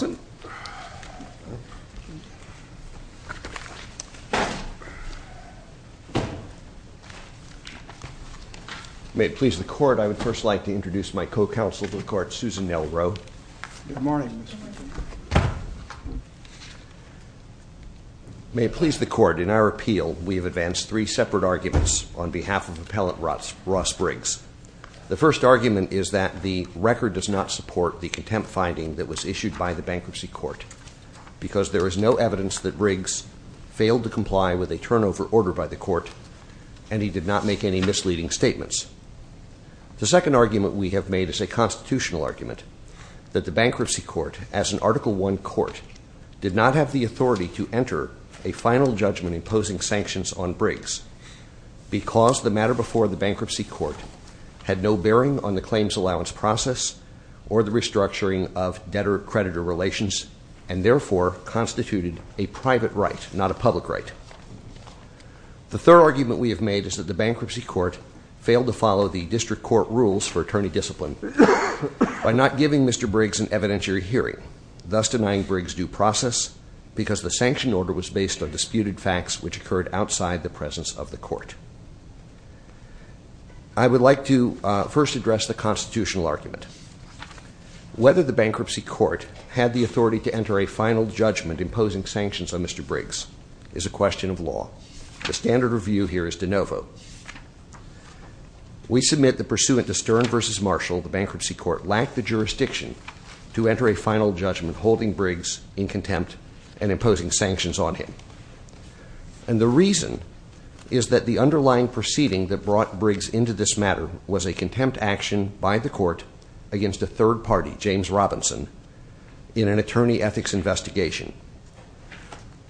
May it please the Court, I would first like to introduce my co-counsel to the Court, Susan Nelrow. May it please the Court, in our appeal, we have advanced three separate arguments on behalf of Appellant Ross Briggs. The first argument is that the record does not support the contempt finding that was issued by the Bankruptcy Court because there is no evidence that Briggs failed to comply with a turnover order by the Court and he did not make any misleading statements. The second argument we have made is a constitutional argument that the Bankruptcy Court, as an Article I court, did not have the authority to enter a final judgment imposing sanctions on Briggs because the matter before the Bankruptcy Court had no bearing on the claims allowance process or the restructuring of debtor-creditor relations and therefore constituted a private right, not a public right. The third argument we have made is that the Bankruptcy Court failed to follow the District Court rules for attorney discipline by not giving Mr. Briggs an evidentiary hearing, thus denying Briggs due process because the sanction order was based on disputed facts which occurred outside the presence of the District Court. I would like to first address the constitutional argument. Whether the Bankruptcy Court had the authority to enter a final judgment imposing sanctions on Mr. Briggs is a question of law. The standard of view here is de novo. We submit that pursuant to Stern v. Marshall, the Bankruptcy Court lacked the jurisdiction to enter a final judgment holding Briggs in contempt and imposing sanctions on him. And the reason is that the underlying proceeding that brought Briggs into this matter was a contempt action by the Court against a third party, James Robinson, in an attorney ethics investigation.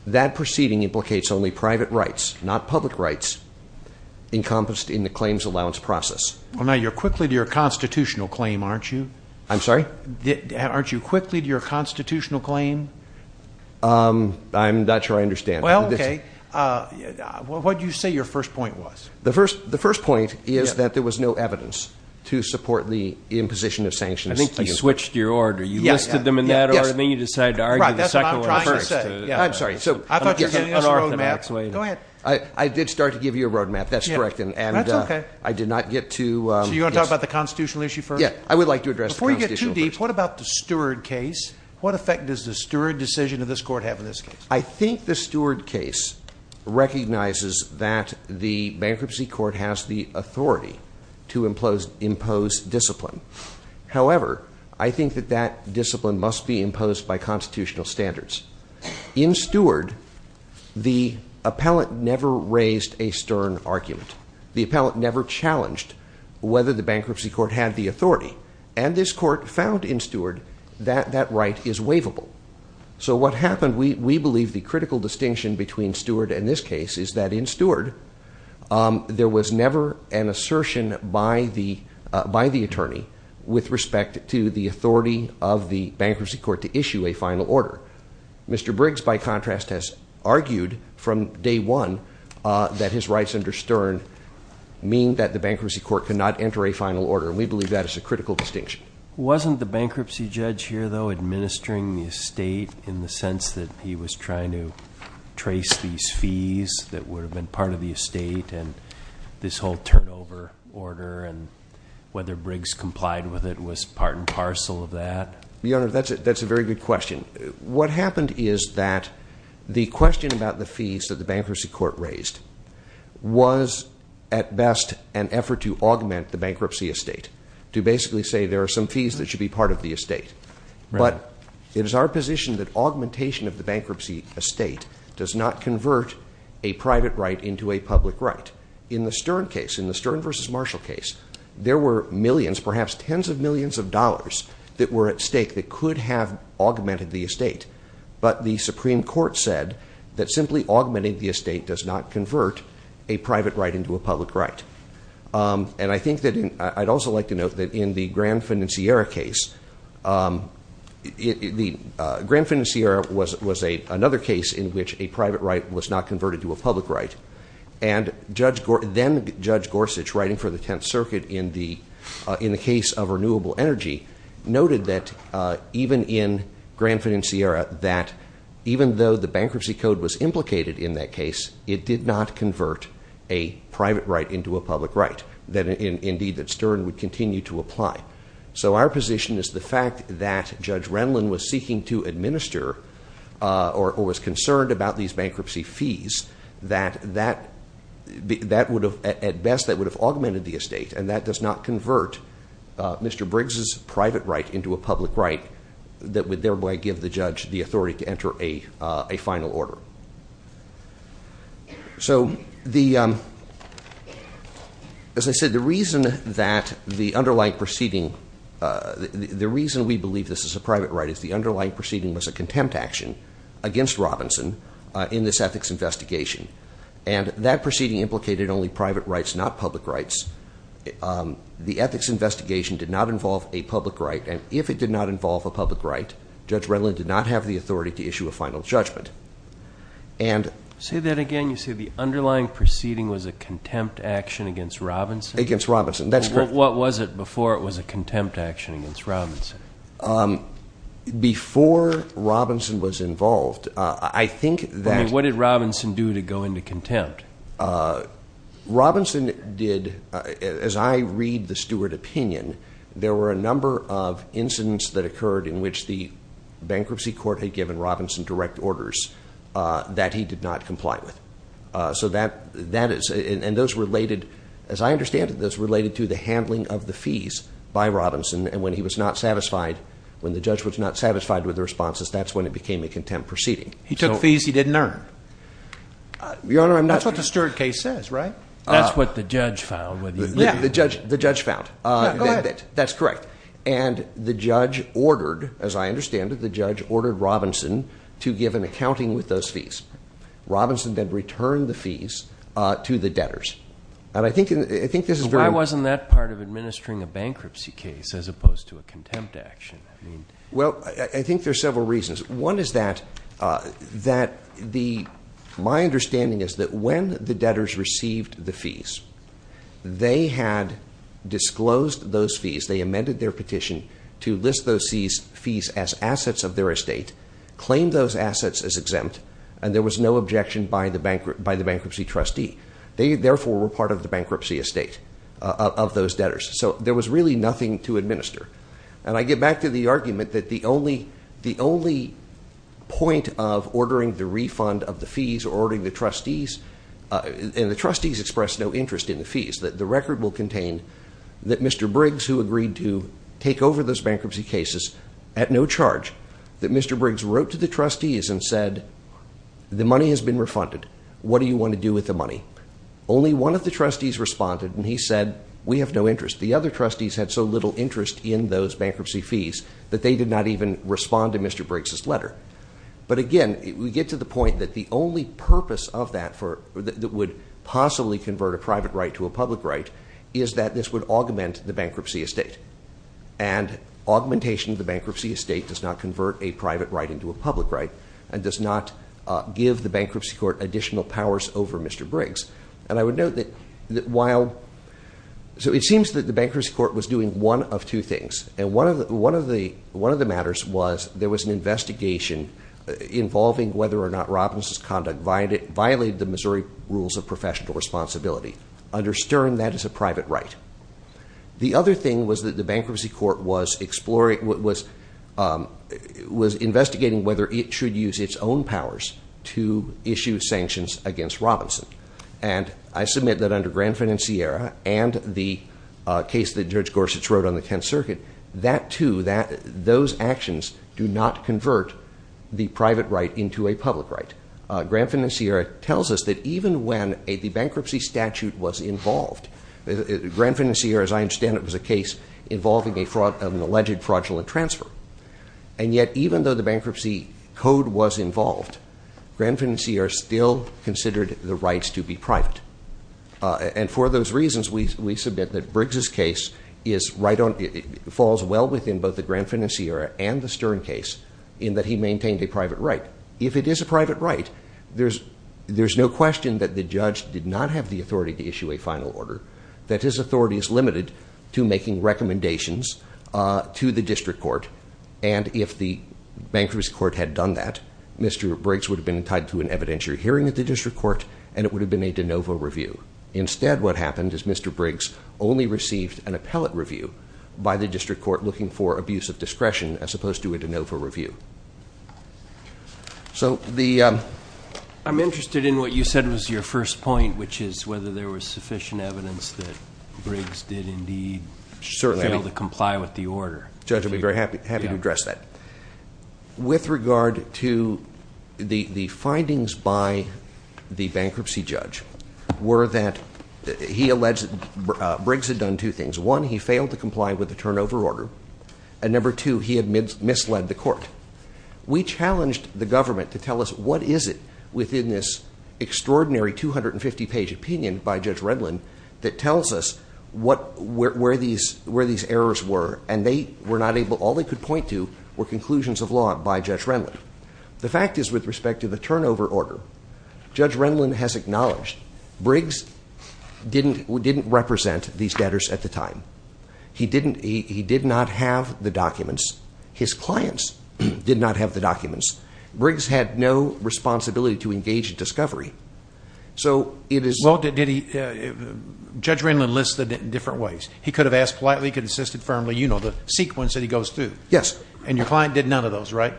That proceeding implicates only private rights, not public rights, encompassed in the claims allowance process. Well, now you're quickly to your constitutional claim, aren't you? I'm sorry? Aren't you quickly to your constitutional claim? I'm not sure I understand. Well, okay. What did you say your first point was? The first point is that there was no evidence to support the imposition of sanctions. I think you switched your order. You listed them in that order, then you decided to argue That's what I'm trying to say. I'm sorry. I thought you were giving us a road map. Go ahead. I did start to give you a road map. That's correct. That's okay. And I did not get to... So you want to talk about the constitutional issue first? Yeah. I would like to address the constitutional issue first. Before you get too deep, what about the Steward case? What effect does the Steward decision of this Court have in this case? I think the Steward case recognizes that the bankruptcy court has the authority to impose discipline. However, I think that that discipline must be imposed by constitutional standards. In Steward, the appellate never raised a stern argument. The appellate never challenged whether the bankruptcy court had the authority. And this Court found in Steward that that right is waivable. So what happened, we believe the critical distinction between Steward and this case is that in Steward, there was never an assertion by the attorney with respect to the authority of the bankruptcy court to issue a final order. Mr. Briggs, by contrast, has argued from day one that his rights under stern mean that the bankruptcy court cannot enter a final order. We believe that is a critical distinction. Wasn't the bankruptcy judge here, though, administering the estate in the sense that he was trying to trace these fees that would have been part of the estate and this whole turnover order and whether Briggs complied with it was part and parcel of that? Your Honor, that's a very good question. What happened is that the question about the fees that the bankruptcy court raised was at best an effort to augment the bankruptcy estate, to basically say there are some fees that should be part of the estate. But it is our position that augmentation of the bankruptcy estate does not convert a private right into a public right. In the Stern case, in the Stern v. Marshall case, there were millions, perhaps tens of millions of dollars that were at stake that could have augmented the estate. But the Supreme Court said that simply augmenting the estate does not convert a private right into a public right. I'd like to note that in the Grand Financiera case, Grand Financiera was another case in which a private right was not converted to a public right. And then Judge Gorsuch, writing for the Tenth Circuit in the case of renewable energy, noted that even in Grand Financiera, that even though the bankruptcy code was implicated in that So our position is the fact that Judge Renlin was seeking to administer, or was concerned about these bankruptcy fees, that at best that would have augmented the estate, and that does not convert Mr. Briggs' private right into a public right that would thereby give the judge the authority to enter a final order. So, as I said, the reason that the underlying proceeding, the reason we believe this is a private right is the underlying proceeding was a contempt action against Robinson in this ethics investigation. And that proceeding implicated only private rights, not public rights. The ethics investigation did not involve a public right, and if it did not involve a public right, Judge Renlin did not have the authority to issue a final judgment. Say that again, you say the underlying proceeding was a contempt action against Robinson? Against Robinson, that's correct. What was it before it was a contempt action against Robinson? Before Robinson was involved, I think that What did Robinson do to go into contempt? Robinson did, as I read the Stewart opinion, there were a number of incidents that occurred in which the bankruptcy court had given Robinson direct orders that he did not comply with. So that is, and those related, as I understand it, those related to the handling of the fees by Robinson, and when he was not satisfied, when the judge was not satisfied with the responses, that's when it became a contempt proceeding. He took fees he didn't earn? Your Honor, I'm not That's what the Stewart case says, right? That's what the judge found, whether you believe it or not. Yeah, the judge found. Yeah, go ahead. That's correct. And the judge ordered, as I understand it, the judge ordered Robinson to give an accounting with those fees. Robinson then returned the fees to the debtors. And I think this is very So why wasn't that part of administering a bankruptcy case, as opposed to a contempt action? Well, I think there's several reasons. One is that my understanding is that when the debtors received the fees, they had disclosed those fees, they amended their petition to list those fees as assets of their estate, claimed those assets as exempt, and there was no objection by the bankruptcy trustee. They, therefore, were part of the bankruptcy estate of those debtors. So there was really nothing to administer. And I get back to the argument that the only point of ordering the refund of the fees or ordering the trustees, and the trustees expressed no interest in the fees, that the record will contain that Mr. Briggs, who agreed to take over those bankruptcy cases at no charge, that Mr. Briggs wrote to the trustees and said, the money has been refunded. What do you want to do with the money? Only one of the trustees responded, and he said, we have no interest. The other trustees had so little interest in those bankruptcy fees that they did not even respond to Mr. Briggs' letter. But again, we get to the point that the only purpose of that would possibly convert a private right to a public right is that this would augment the bankruptcy estate. And augmentation of the bankruptcy estate does not convert a private right into a public right and does not give the bankruptcy court additional powers over Mr. Briggs. And I would note that while, so it seems that the bankruptcy court was doing one of two things. And one of the matters was there was an investigation involving whether or not Robbins' conduct violated the Missouri rules of professional responsibility. Under the bankruptcy court was exploring, was investigating whether it should use its own powers to issue sanctions against Robinson. And I submit that under Granfin and Sierra and the case that Judge Gorsuch wrote on the 10th Circuit, that too, those actions do not convert the private right into a public right. Granfin and Sierra tells us that even when the bankruptcy statute was involved, Granfin and Sierra, as I understand it, was a case involving an alleged fraudulent transfer. And yet, even though the bankruptcy code was involved, Granfin and Sierra still considered the rights to be private. And for those reasons, we submit that Briggs' case is right on, falls well within both the Granfin and Sierra and the Stern case in that he maintained a private right. If it is a private right, there's no question that the judge did not have the authority to issue a final order, that his authority is limited to making recommendations to the district court. And if the bankruptcy court had done that, Mr. Briggs would have been tied to an evidentiary hearing at the district court and it would have been a de novo review. Instead, what happened is Mr. Briggs only received an appellate review by the district court looking for abuse of discretion as opposed to a de novo review. I'm interested in what you said was your first point, which is whether there was sufficient evidence that Briggs did indeed fail to comply with the order. Judge, I'd be very happy to address that. With regard to the findings by the bankruptcy judge were that he alleged Briggs had done two things. One, he failed to comply with We challenged the government to tell us what is it within this extraordinary 250 page opinion by Judge Renlund that tells us where these errors were and all they could point to were conclusions of law by Judge Renlund. The fact is with respect to the turnover order, Judge Renlund has acknowledged Briggs didn't represent these debtors at the time. He did not have the documents. His clients did not have the documents. Briggs had no responsibility to engage in discovery. Judge Renlund listed it in different ways. He could have asked politely, could have assisted firmly, you know, the sequence that he goes through. And your client did none of those, right?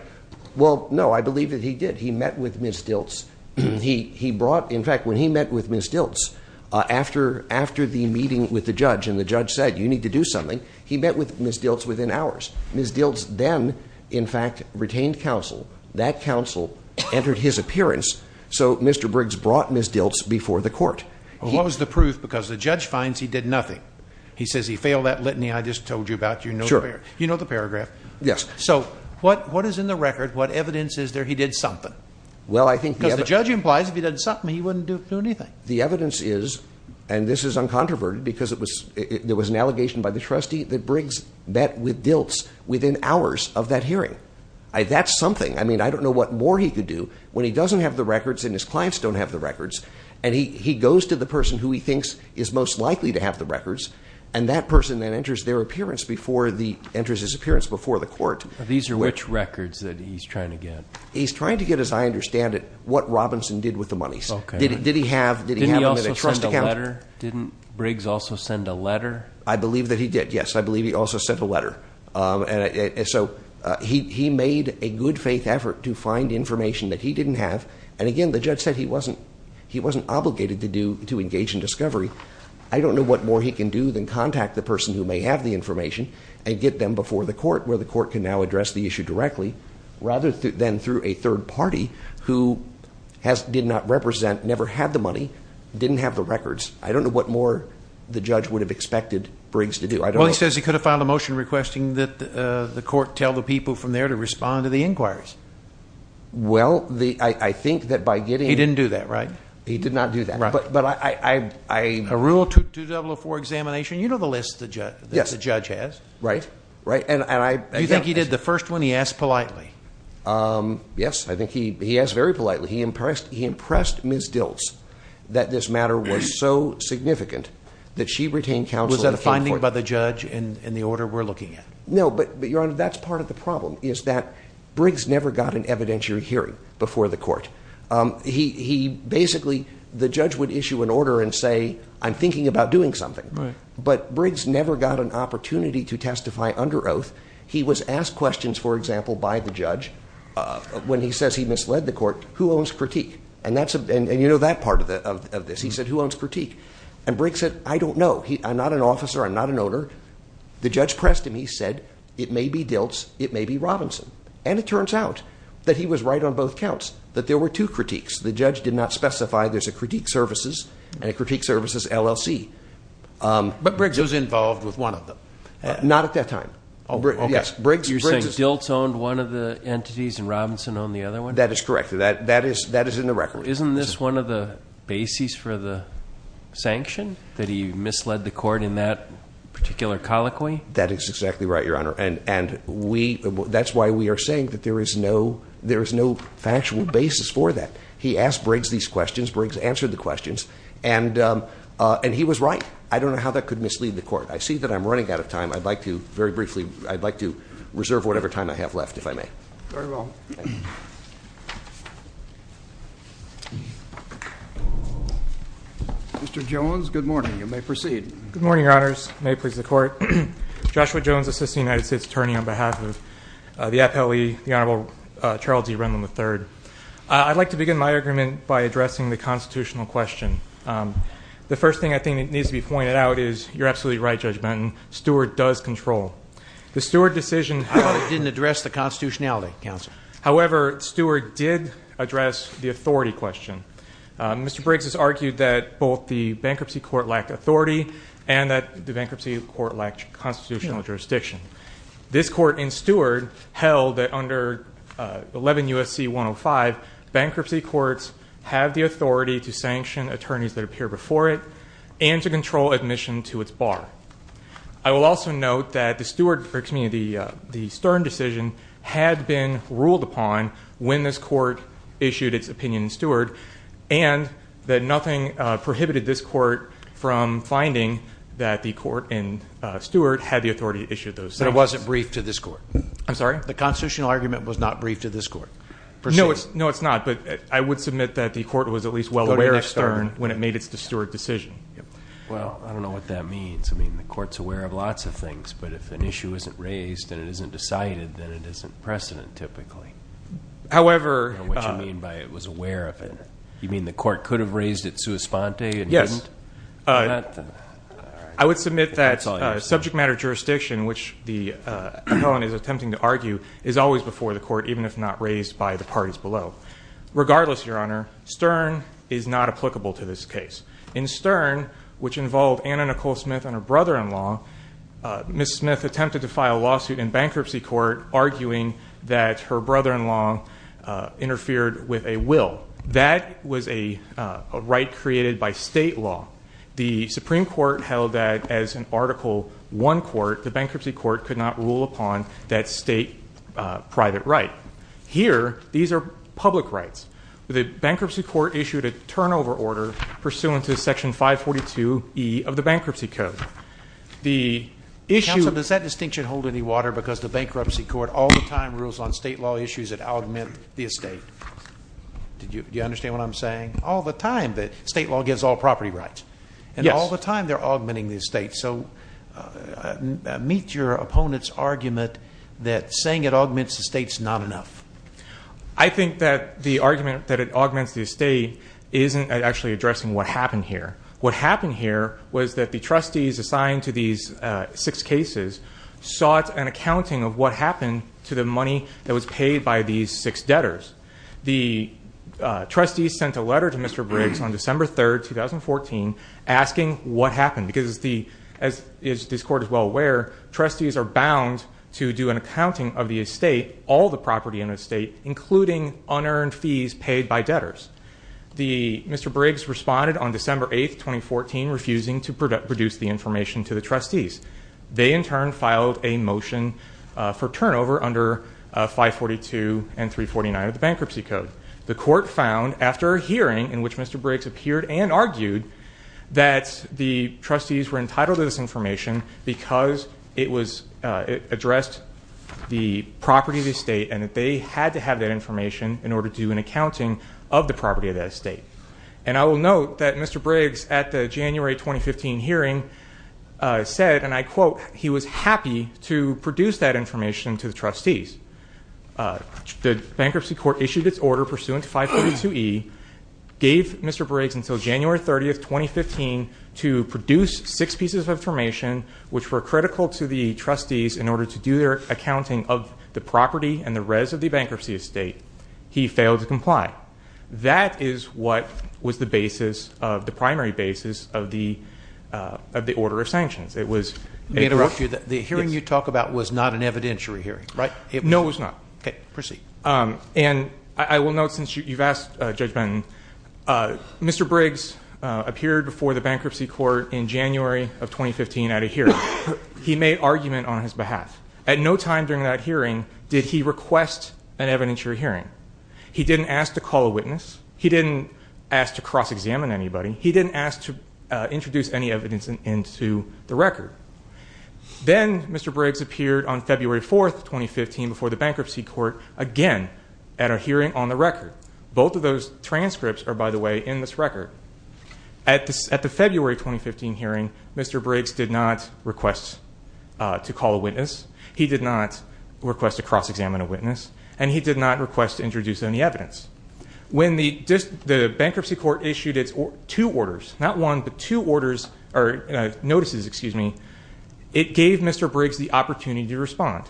Well, no, I believe that he did. He met with Ms. Diltz. He brought, in fact, when he met with Ms. Diltz, after the meeting with the judge and the judge said you need to do something, he met with Ms. Diltz within hours. Ms. Diltz then, in fact, retained counsel. That counsel entered his appearance. So Mr. Briggs brought Ms. Diltz before the court. What was the proof? Because the judge finds he did nothing. He says he failed that litany I just told you about. You know the paragraph. Yes. So what is in the record? What evidence is there he did something? Because the judge implies if he did something, he wouldn't do anything. The evidence is, and this is uncontroverted, because there was an allegation by the trustee that Briggs met with Diltz within hours of that hearing. That's something. I mean, I don't know what more he could do when he doesn't have the records and his clients don't have the records. And he goes to the person who he thinks is most likely to have the records and that person then enters their appearance before the, enters his appearance before the court. These are which records that he's trying to get? He's trying to get, as I understand it, what Robinson did with the monies. Okay. Did he have, did he have them in a trust account? Didn't he also send a letter? Didn't Briggs also send a letter? I believe that he did. Yes, I believe he also sent a letter. And so he made a good faith effort to find information that he didn't have. And again, the judge said he wasn't, he wasn't obligated to do, to engage in discovery. I don't know what more he can do than contact the person who may have the information and get them before the court where the court can now address the issue directly rather than through a third party who has, did not represent, never had the money, didn't have the records. I don't know what more the judge would have expected Briggs to do. Well, he says he could have filed a motion requesting that the court tell the people from there to respond to the inquiries. Well, the, I think that by getting... He didn't do that, right? He did not do that. But, but I, I, I... A Rule 2004 examination, you know the list the judge, that the judge has. Right, right. And I... And you think he did the first one? He asked politely. Yes, I think he, he asked very politely. He impressed, he impressed Ms. Dills that this matter was so significant that she retained counsel... Was that a finding by the judge in, in the order we're looking at? No, but, but Your Honor, that's part of the problem is that Briggs never got an evidentiary hearing before the court. He, he basically, the judge would issue an order and say, I'm thinking about doing something. Right. But Briggs never got an opportunity to testify under oath. He was asked questions, for example, by the judge when he says he misled the court, who owns critique? And that's, and, and you know that part of the, of, of this. He said, who owns critique? And Briggs said, I don't know. He, I'm not an officer. I'm not an owner. The judge pressed him. He said, it may be Dilts, it may be Robinson. And it turns out that he was right on both counts, that there were two critiques. The judge did not specify there's a critique services and a critique services LLC. But Briggs was involved with one of them. Not at that time. Oh, okay. Yes, Briggs, Briggs... Is this one of the entities and Robinson on the other one? That is correct. That, that is, that is in the record. Isn't this one of the bases for the sanction that he misled the court in that particular colloquy? That is exactly right, your honor. And, and we, that's why we are saying that there is no, there is no factual basis for that. He asked Briggs these questions, Briggs answered the questions and, um, uh, and he was right. I don't know how that could mislead the court. I see that I'm running out of time. I'd like to very briefly, I'd like to reserve whatever time I have left, if I may. Very well. Mr. Jones, good morning. You may proceed. Good morning, your honors. May it please the court. Joshua Jones, assistant United States attorney on behalf of, uh, the FLE, the honorable, uh, Charles E. Renland III. Uh, I'd like to begin my agreement by addressing the constitutional question. Um, the first thing I think that needs to be pointed out is you're absolutely right, Judge Benton, Stewart does control. ...didn't exist. ...didn't exist. ...didn't exist. ...didn't exist. ...didn't exist. ...didn't exist. ...didn't exist. ...didn't exist. ...didn't exist. ...you're wrong. ...you're wrong. …not my fault. …not my fault. …didn't exist. ….didn't exist at all. ...didn't exist. ...didn't exist. ...didn't exist. ...didn't exist. ...didn't exist. ...didn't exist. ...arguing that her brother-in-law interfered with a will. That was a right created by state law. The Supreme Court held that, as an Article I court, the Bankruptcy Court could not rule upon that state private right. Here, these are public rights. The Bankruptcy Court issued a turnover order pursuant to Section 542E of the Bankruptcy Code. The issue... Counsel, does that distinction hold any water because the Bankruptcy Court all the time rules on state law issues that augment the estate? Do you understand what I'm saying? All the time, the state law gives all property rights. Yes. And all the time, they're augmenting the estate. So meet your opponent's argument that saying it augments the estate's not enough. I think that the argument that it augments the estate isn't actually addressing what happened here. What happened here was that the trustees assigned to these six cases sought an accounting of what happened to the money that was paid by these six debtors. The trustees sent a letter to Mr. Briggs on December 3, 2014, asking what happened. Because, as this Court is well aware, trustees are bound to do an accounting of the estate, all the property in the estate, including unearned fees paid by debtors. Mr. Briggs responded on December 8, 2014, refusing to produce the information to the trustees. They, in turn, filed a motion for turnover under 542 and 349 of the Bankruptcy Code. The Court found, after a hearing in which Mr. Briggs appeared and argued, that the trustees were entitled to this information because it addressed the property of the estate, and that they had to have that information in order to do an accounting of the property of that estate. And I will note that Mr. Briggs, at the January 2015 hearing, said, and I quote, that he was happy to produce that information to the trustees. The Bankruptcy Court issued its order pursuant to 542E, gave Mr. Briggs until January 30th, 2015, to produce six pieces of information, which were critical to the trustees in order to do their accounting of the property and the rest of the bankruptcy estate. He failed to comply. That is what was the primary basis of the order of sanctions. It was- Let me interrupt you. The hearing you talk about was not an evidentiary hearing, right? No, it was not. Okay. Proceed. And I will note, since you've asked Judge Benton, Mr. Briggs appeared before the Bankruptcy Court in January of 2015 at a hearing. He made argument on his behalf. At no time during that hearing did he request an evidentiary hearing. He didn't ask to call a witness. He didn't ask to cross-examine anybody. He didn't ask to introduce any evidence into the record. Then Mr. Briggs appeared on February 4th, 2015, before the Bankruptcy Court again at a hearing on the record. Both of those transcripts are, by the way, in this record. At the February 2015 hearing, Mr. Briggs did not request to call a witness. He did not request to cross-examine a witness. And he did not request to introduce any evidence. When the Bankruptcy Court issued its two orders, not one, but two orders, or notices, excuse me, it gave Mr. Briggs the opportunity to respond.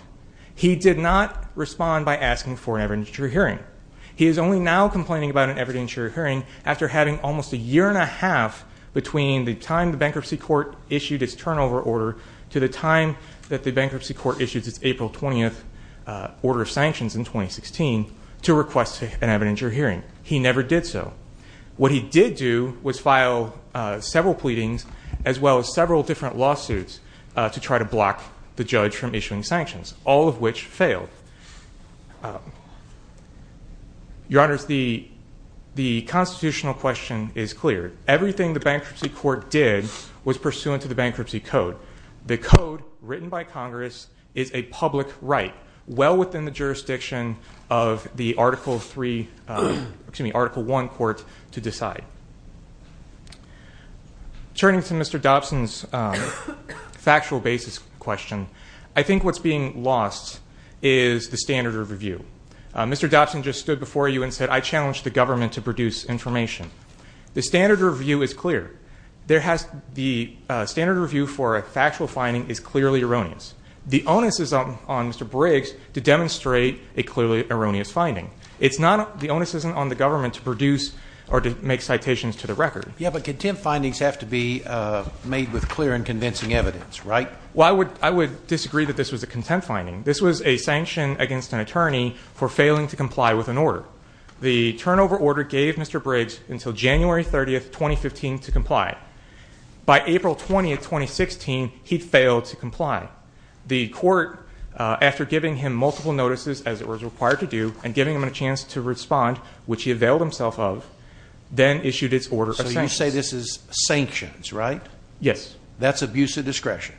He did not respond by asking for an evidentiary hearing. He is only now complaining about an evidentiary hearing after having almost a year and a half between the time the Bankruptcy Court issued its turnover order to the time that the Bankruptcy Court issued its April 20th order of sanctions in 2016 to request an evidentiary hearing. He never did so. What he did do was file several pleadings as well as several different lawsuits to try to block the judge from issuing sanctions, all of which failed. Your Honors, the constitutional question is clear. Everything the Bankruptcy Court did was pursuant to the Bankruptcy Code. The Code, written by Congress, is a public right well within the jurisdiction of the Article I court to decide. Turning to Mr. Dobson's factual basis question, I think what's being lost is the standard of review. Mr. Dobson just stood before you and said, I challenge the government to produce information. The standard of review is clear. The standard of review for a factual finding is clearly erroneous. The onus is on Mr. Briggs to demonstrate a clearly erroneous finding. It's not the onus is on the government to produce or to make citations to the record. Yeah, but contempt findings have to be made with clear and convincing evidence, right? Well, I would disagree that this was a contempt finding. This was a sanction against an attorney for failing to comply with an order. The turnover order gave Mr. Briggs until January 30th, 2015, to comply. By April 20th, 2016, he failed to comply. The court, after giving him multiple notices as it was required to do and giving him a chance to respond, which he availed himself of, then issued its order of sanctions. So you say this is sanctions, right? Yes. That's abuse of discretion.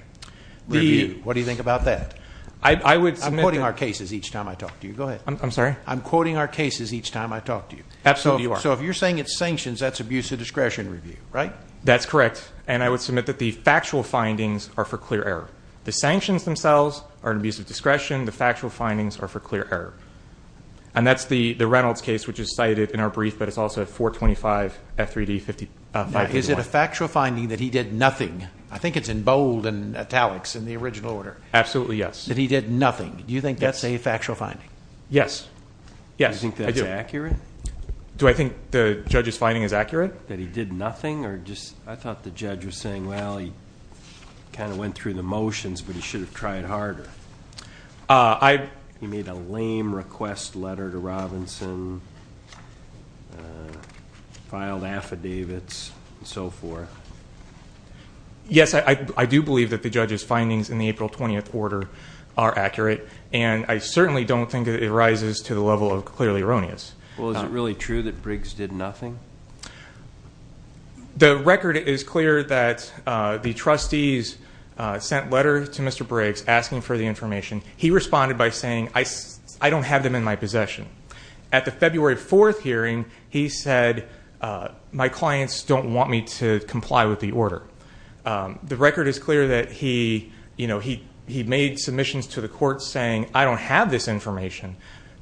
Review. What do you think about that? I would- I'm quoting our cases each time I talk to you. Go ahead. I'm sorry? I'm quoting our cases each time I talk to you. Absolutely, you are. So if you're saying it's sanctions, that's abuse of discretion review, right? That's correct. And I would submit that the factual findings are for clear error. The sanctions themselves are an abuse of discretion. The factual findings are for clear error. And that's the Reynolds case, which is cited in our brief, but it's also 425 F3D 531. Now, is it a factual finding that he did nothing? I think it's in bold and italics in the original order. Absolutely, yes. That he did nothing. Do you think that's a factual finding? Yes. Yes, I do. Do you think that's accurate? Do I think the judge's finding is accurate? That he did nothing, or just-I thought the judge was saying, well, he kind of went through the motions, but he should have tried harder. He made a lame request letter to Robinson, filed affidavits, and so forth. Yes, I do believe that the judge's findings in the April 20th order are accurate. And I certainly don't think that it rises to the level of clearly erroneous. Well, is it really true that Briggs did nothing? The record is clear that the trustees sent letters to Mr. Briggs asking for the information. He responded by saying, I don't have them in my possession. At the February 4th hearing, he said, my clients don't want me to comply with the order. The record is clear that he made submissions to the court saying, I don't have this information.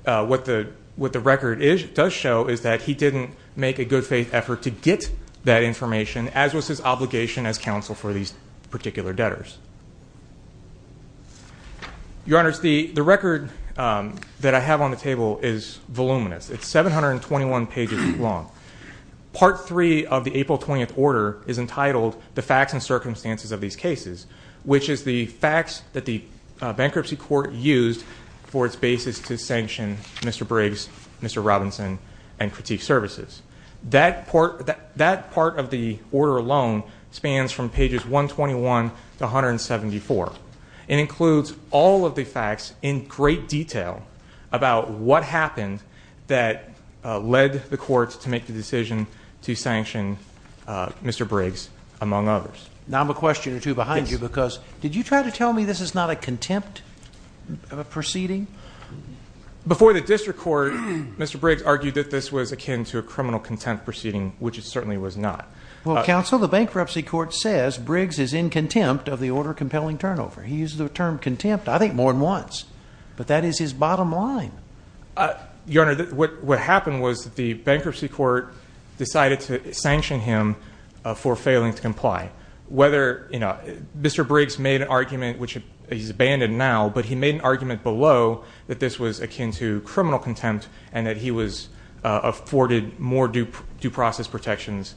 What the record does show is that he didn't make a good faith effort to get that information, as was his obligation as counsel for these particular debtors. Your Honors, the record that I have on the table is voluminous. It's 721 pages long. Part 3 of the April 20th order is entitled The Facts and Circumstances of These Cases, which is the facts that the bankruptcy court used for its basis to sanction Mr. Briggs, Mr. Robinson, and Critique Services. That part of the order alone spans from pages 121 to 174. It includes all of the facts in great detail about what happened that led the courts to make the decision to sanction Mr. Briggs, among others. Now I'm a question or two behind you, because did you try to tell me this is not a contempt proceeding? Before the district court, Mr. Briggs argued that this was akin to a criminal contempt proceeding, which it certainly was not. Well, counsel, the bankruptcy court says Briggs is in contempt of the order compelling turnover. He uses the term contempt, I think, more than once. But that is his bottom line. Your Honor, what happened was that the bankruptcy court decided to sanction him for failing to comply. Mr. Briggs made an argument, which he's abandoned now, but he made an argument below that this was akin to criminal contempt and that he was afforded more due process protections.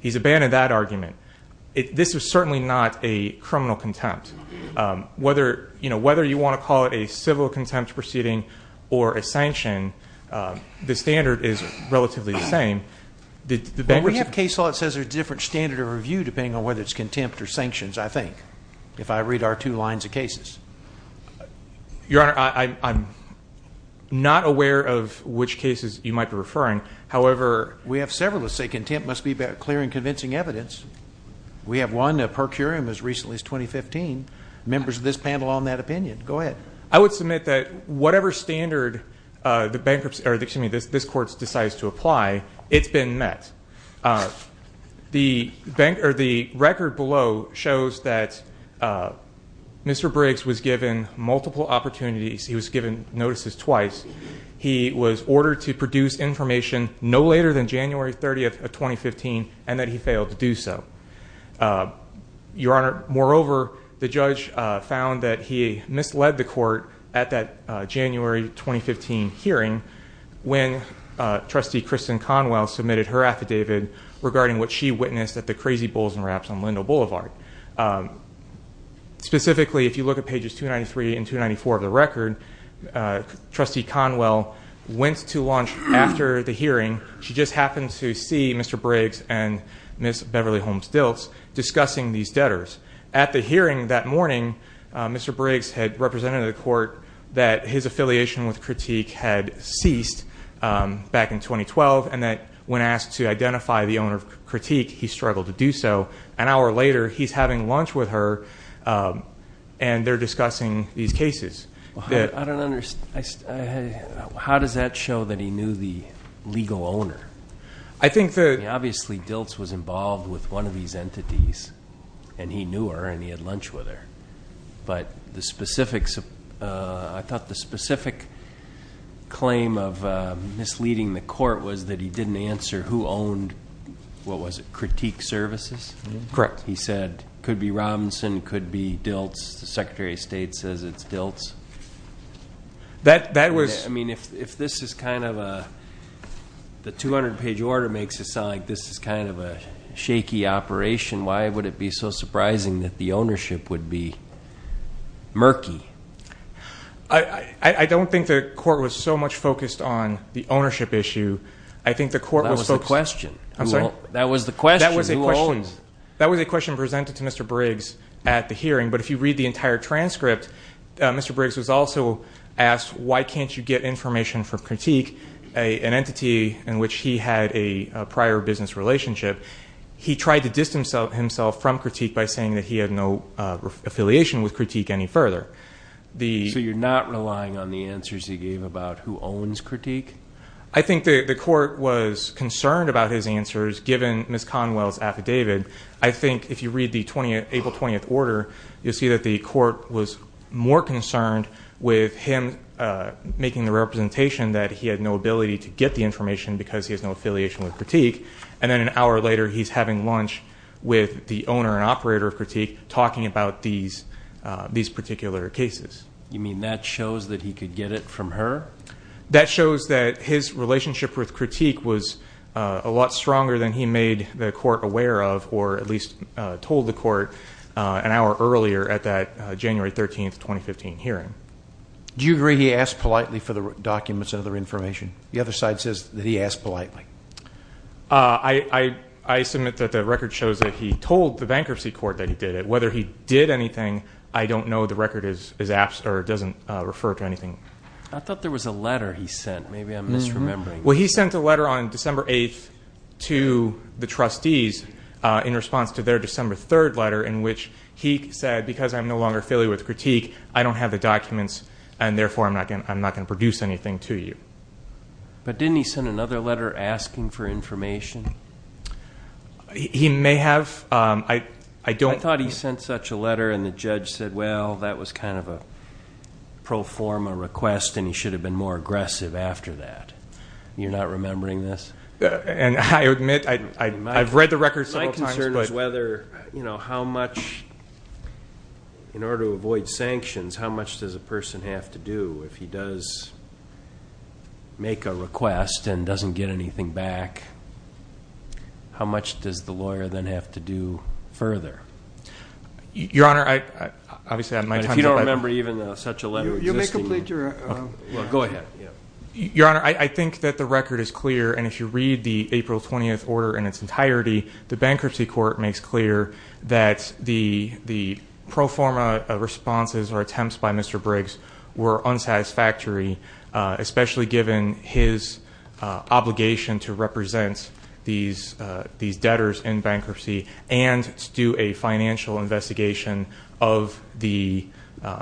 He's abandoned that argument. This is certainly not a criminal contempt. Whether you want to call it a civil contempt proceeding or a sanction, the standard is relatively the same. But we have case law that says there's a different standard of review depending on whether it's contempt or sanctions, I think, if I read our two lines of cases. Your Honor, I'm not aware of which cases you might be referring. However, we have several that say contempt must be clear and convincing evidence. We have one, a per curiam, as recently as 2015. Members of this panel all in that opinion. Go ahead. I would submit that whatever standard this court decides to apply, it's been met. The record below shows that Mr. Briggs was given multiple opportunities. He was given notices twice. He was ordered to produce information no later than January 30th of 2015 and that he failed to do so. Your Honor, moreover, the judge found that he misled the court at that January 2015 hearing when Trustee Kristen Conwell submitted her affidavit regarding what she witnessed at the Crazy Bulls and Raps on Lindo Boulevard. Specifically, if you look at pages 293 and 294 of the record, Trustee Conwell went to lunch after the hearing. She just happened to see Mr. Briggs and Ms. Beverly Holmes-Dilts discussing these debtors. At the hearing that morning, Mr. Briggs had represented the court that his affiliation with Critique had ceased back in 2012 and that when asked to identify the owner of Critique, he struggled to do so. An hour later, he's having lunch with her and they're discussing these cases. I don't understand. How does that show that he knew the legal owner? Obviously, Dilts was involved with one of these entities and he knew her and he had lunch with her. But I thought the specific claim of misleading the court was that he didn't answer who owned, what was it, Critique Services? Correct. He said, could be Robinson, could be Dilts. The Secretary of State says it's Dilts. That was- I mean, if this is kind of a, the 200-page order makes it sound like this is kind of a shaky operation, why would it be so surprising that the ownership would be murky? I don't think the court was so much focused on the ownership issue. I think the court was focused- That was the question. I'm sorry? That was the question. Who owns? That was a question presented to Mr. Briggs at the hearing. But if you read the entire transcript, Mr. Briggs was also asked, why can't you get information from Critique, an entity in which he had a prior business relationship? He tried to distance himself from Critique by saying that he had no affiliation with Critique any further. So you're not relying on the answers he gave about who owns Critique? I think the court was concerned about his answers, given Ms. Conwell's affidavit. I think if you read the April 20th order, you'll see that the court was more concerned with him making the representation that he had no ability to get the information because he has no affiliation with Critique. And then an hour later, he's having lunch with the owner and operator of Critique, talking about these particular cases. You mean that shows that he could get it from her? That shows that his relationship with Critique was a lot stronger than he made the court aware of, or at least told the court an hour earlier at that January 13th, 2015 hearing. Do you agree he asked politely for the documents and other information? The other side says that he asked politely. I submit that the record shows that he told the bankruptcy court that he did it. Whether he did anything, I don't know. The record doesn't refer to anything. I thought there was a letter he sent. Maybe I'm misremembering. Well, he sent a letter on December 8th to the trustees in response to their December 3rd letter, in which he said, because I'm no longer affiliated with Critique, I don't have the documents, and therefore I'm not going to produce anything to you. But didn't he send another letter asking for information? He may have. I thought he sent such a letter and the judge said, well, that was kind of a pro forma request, and he should have been more aggressive after that. You're not remembering this? I admit I've read the record several times. My concern is whether, you know, how much, in order to avoid sanctions, how much does a person have to do if he does make a request and doesn't get anything back? How much does the lawyer then have to do further? Your Honor, I obviously have my time. If you don't remember even such a letter existing. You may complete your. Well, go ahead. Your Honor, I think that the record is clear, and if you read the April 20th order in its entirety, the bankruptcy court makes clear that the pro forma responses or attempts by Mr. Briggs were unsatisfactory, especially given his obligation to represent these debtors in bankruptcy and to do a financial investigation of the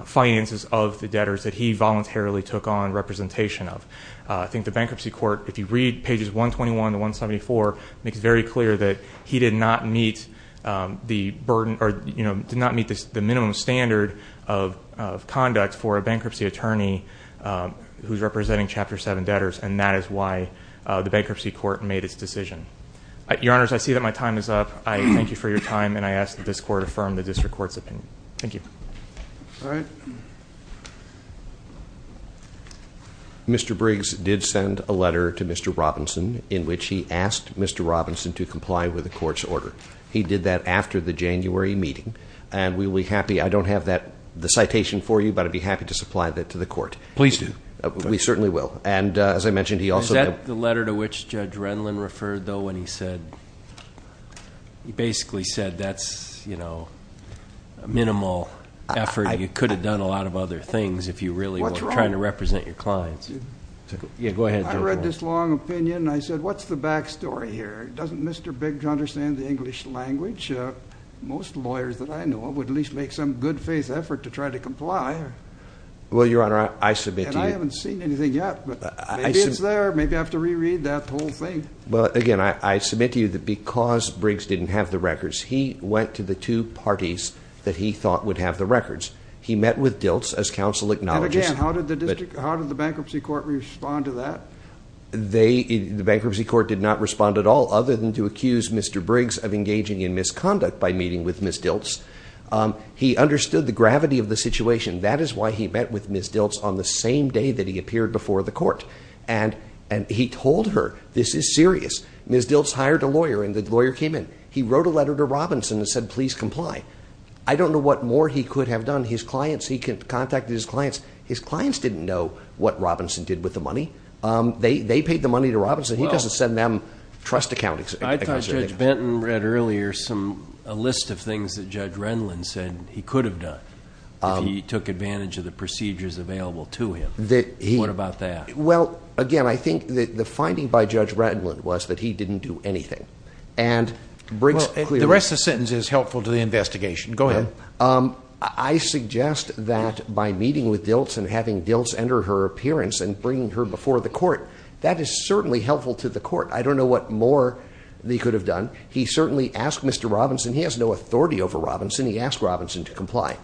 finances of the debtors that he voluntarily took on representation of. I think the bankruptcy court, if you read pages 121 to 174, makes very clear that he did not meet the burden or, you know, did not meet the minimum standard of conduct for a bankruptcy attorney who's representing Chapter 7 debtors, and that is why the bankruptcy court made its decision. Your Honor, I see that my time is up. I thank you for your time, and I ask that this court affirm the district court's opinion. Thank you. All right. Mr. Briggs did send a letter to Mr. Robinson in which he asked Mr. Robinson to comply with the court's order. He did that after the January meeting, and we'll be happy. I don't have the citation for you, but I'd be happy to supply that to the court. Please do. We certainly will. And as I mentioned, he also didn't. Is that the letter to which Judge Renlund referred, though, when he said, that's, you know, minimal effort? You could have done a lot of other things if you really were trying to represent your clients. Yeah, go ahead. I read this long opinion, and I said, what's the back story here? Doesn't Mr. Briggs understand the English language? Most lawyers that I know of would at least make some good faith effort to try to comply. Well, Your Honor, I submit to you. And I haven't seen anything yet, but maybe it's there. Maybe I have to reread that whole thing. Well, again, I submit to you that because Briggs didn't have the records, he went to the two parties that he thought would have the records. He met with Diltz as counsel acknowledges. And again, how did the bankruptcy court respond to that? The bankruptcy court did not respond at all, other than to accuse Mr. Briggs of engaging in misconduct by meeting with Ms. Diltz. He understood the gravity of the situation. That is why he met with Ms. Diltz on the same day that he appeared before the court. And he told her, this is serious. Ms. Diltz hired a lawyer, and the lawyer came in. He wrote a letter to Robinson and said, please comply. I don't know what more he could have done. His clients, he contacted his clients. His clients didn't know what Robinson did with the money. They paid the money to Robinson. He doesn't send them trust account. I thought Judge Benton read earlier a list of things that Judge Renlund said he could have done if he took advantage of the procedures available to him. What about that? Well, again, I think the finding by Judge Renlund was that he didn't do anything. The rest of the sentence is helpful to the investigation. Go ahead. I suggest that by meeting with Diltz and having Diltz enter her appearance and bringing her before the court, that is certainly helpful to the court. I don't know what more he could have done. He certainly asked Mr. Robinson. He has no authority over Robinson. He asked Robinson to comply.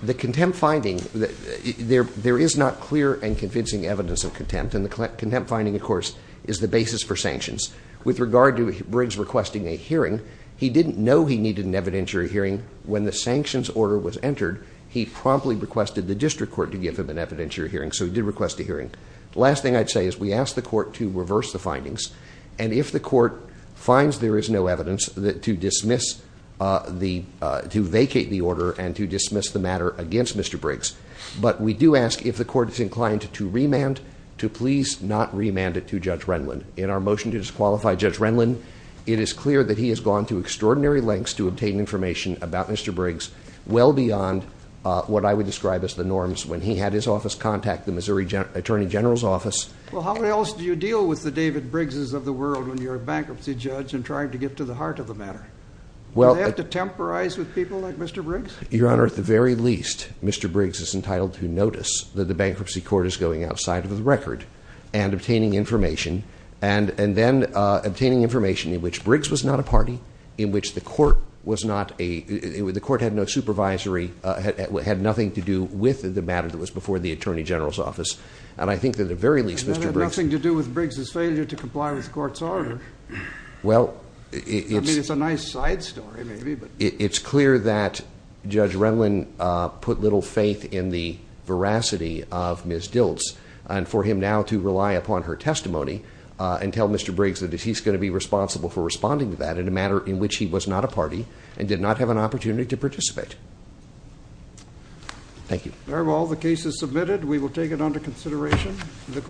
The contempt finding, there is not clear and convincing evidence of contempt, and the contempt finding, of course, is the basis for sanctions. With regard to Briggs requesting a hearing, he didn't know he needed an evidentiary hearing. When the sanctions order was entered, he promptly requested the district court to give him an evidentiary hearing, so he did request a hearing. The last thing I'd say is we asked the court to reverse the findings, and if the court finds there is no evidence to vacate the order and to dismiss the matter against Mr. Briggs, but we do ask if the court is inclined to remand, to please not remand it to Judge Renlund. In our motion to disqualify Judge Renlund, it is clear that he has gone to extraordinary lengths to obtain information about Mr. Briggs, well beyond what I would describe as the norms when he had his office contact the Missouri Attorney General's office. Well, how else do you deal with the David Briggs's of the world when you're a bankruptcy judge and trying to get to the heart of the matter? Do they have to temporize with people like Mr. Briggs? Your Honor, at the very least, Mr. Briggs is entitled to notice that the bankruptcy court is going outside of the record and obtaining information, and then obtaining information in which Briggs was not a party, in which the court had no supervisory, And that had nothing to do with Briggs's failure to comply with the court's order. I mean, it's a nice side story, maybe. It's clear that Judge Renlund put little faith in the veracity of Ms. Diltz and for him now to rely upon her testimony and tell Mr. Briggs that he's going to be responsible for responding to that in a matter in which he was not a party and did not have an opportunity to participate. Thank you. There are all the cases submitted. We will take it under consideration.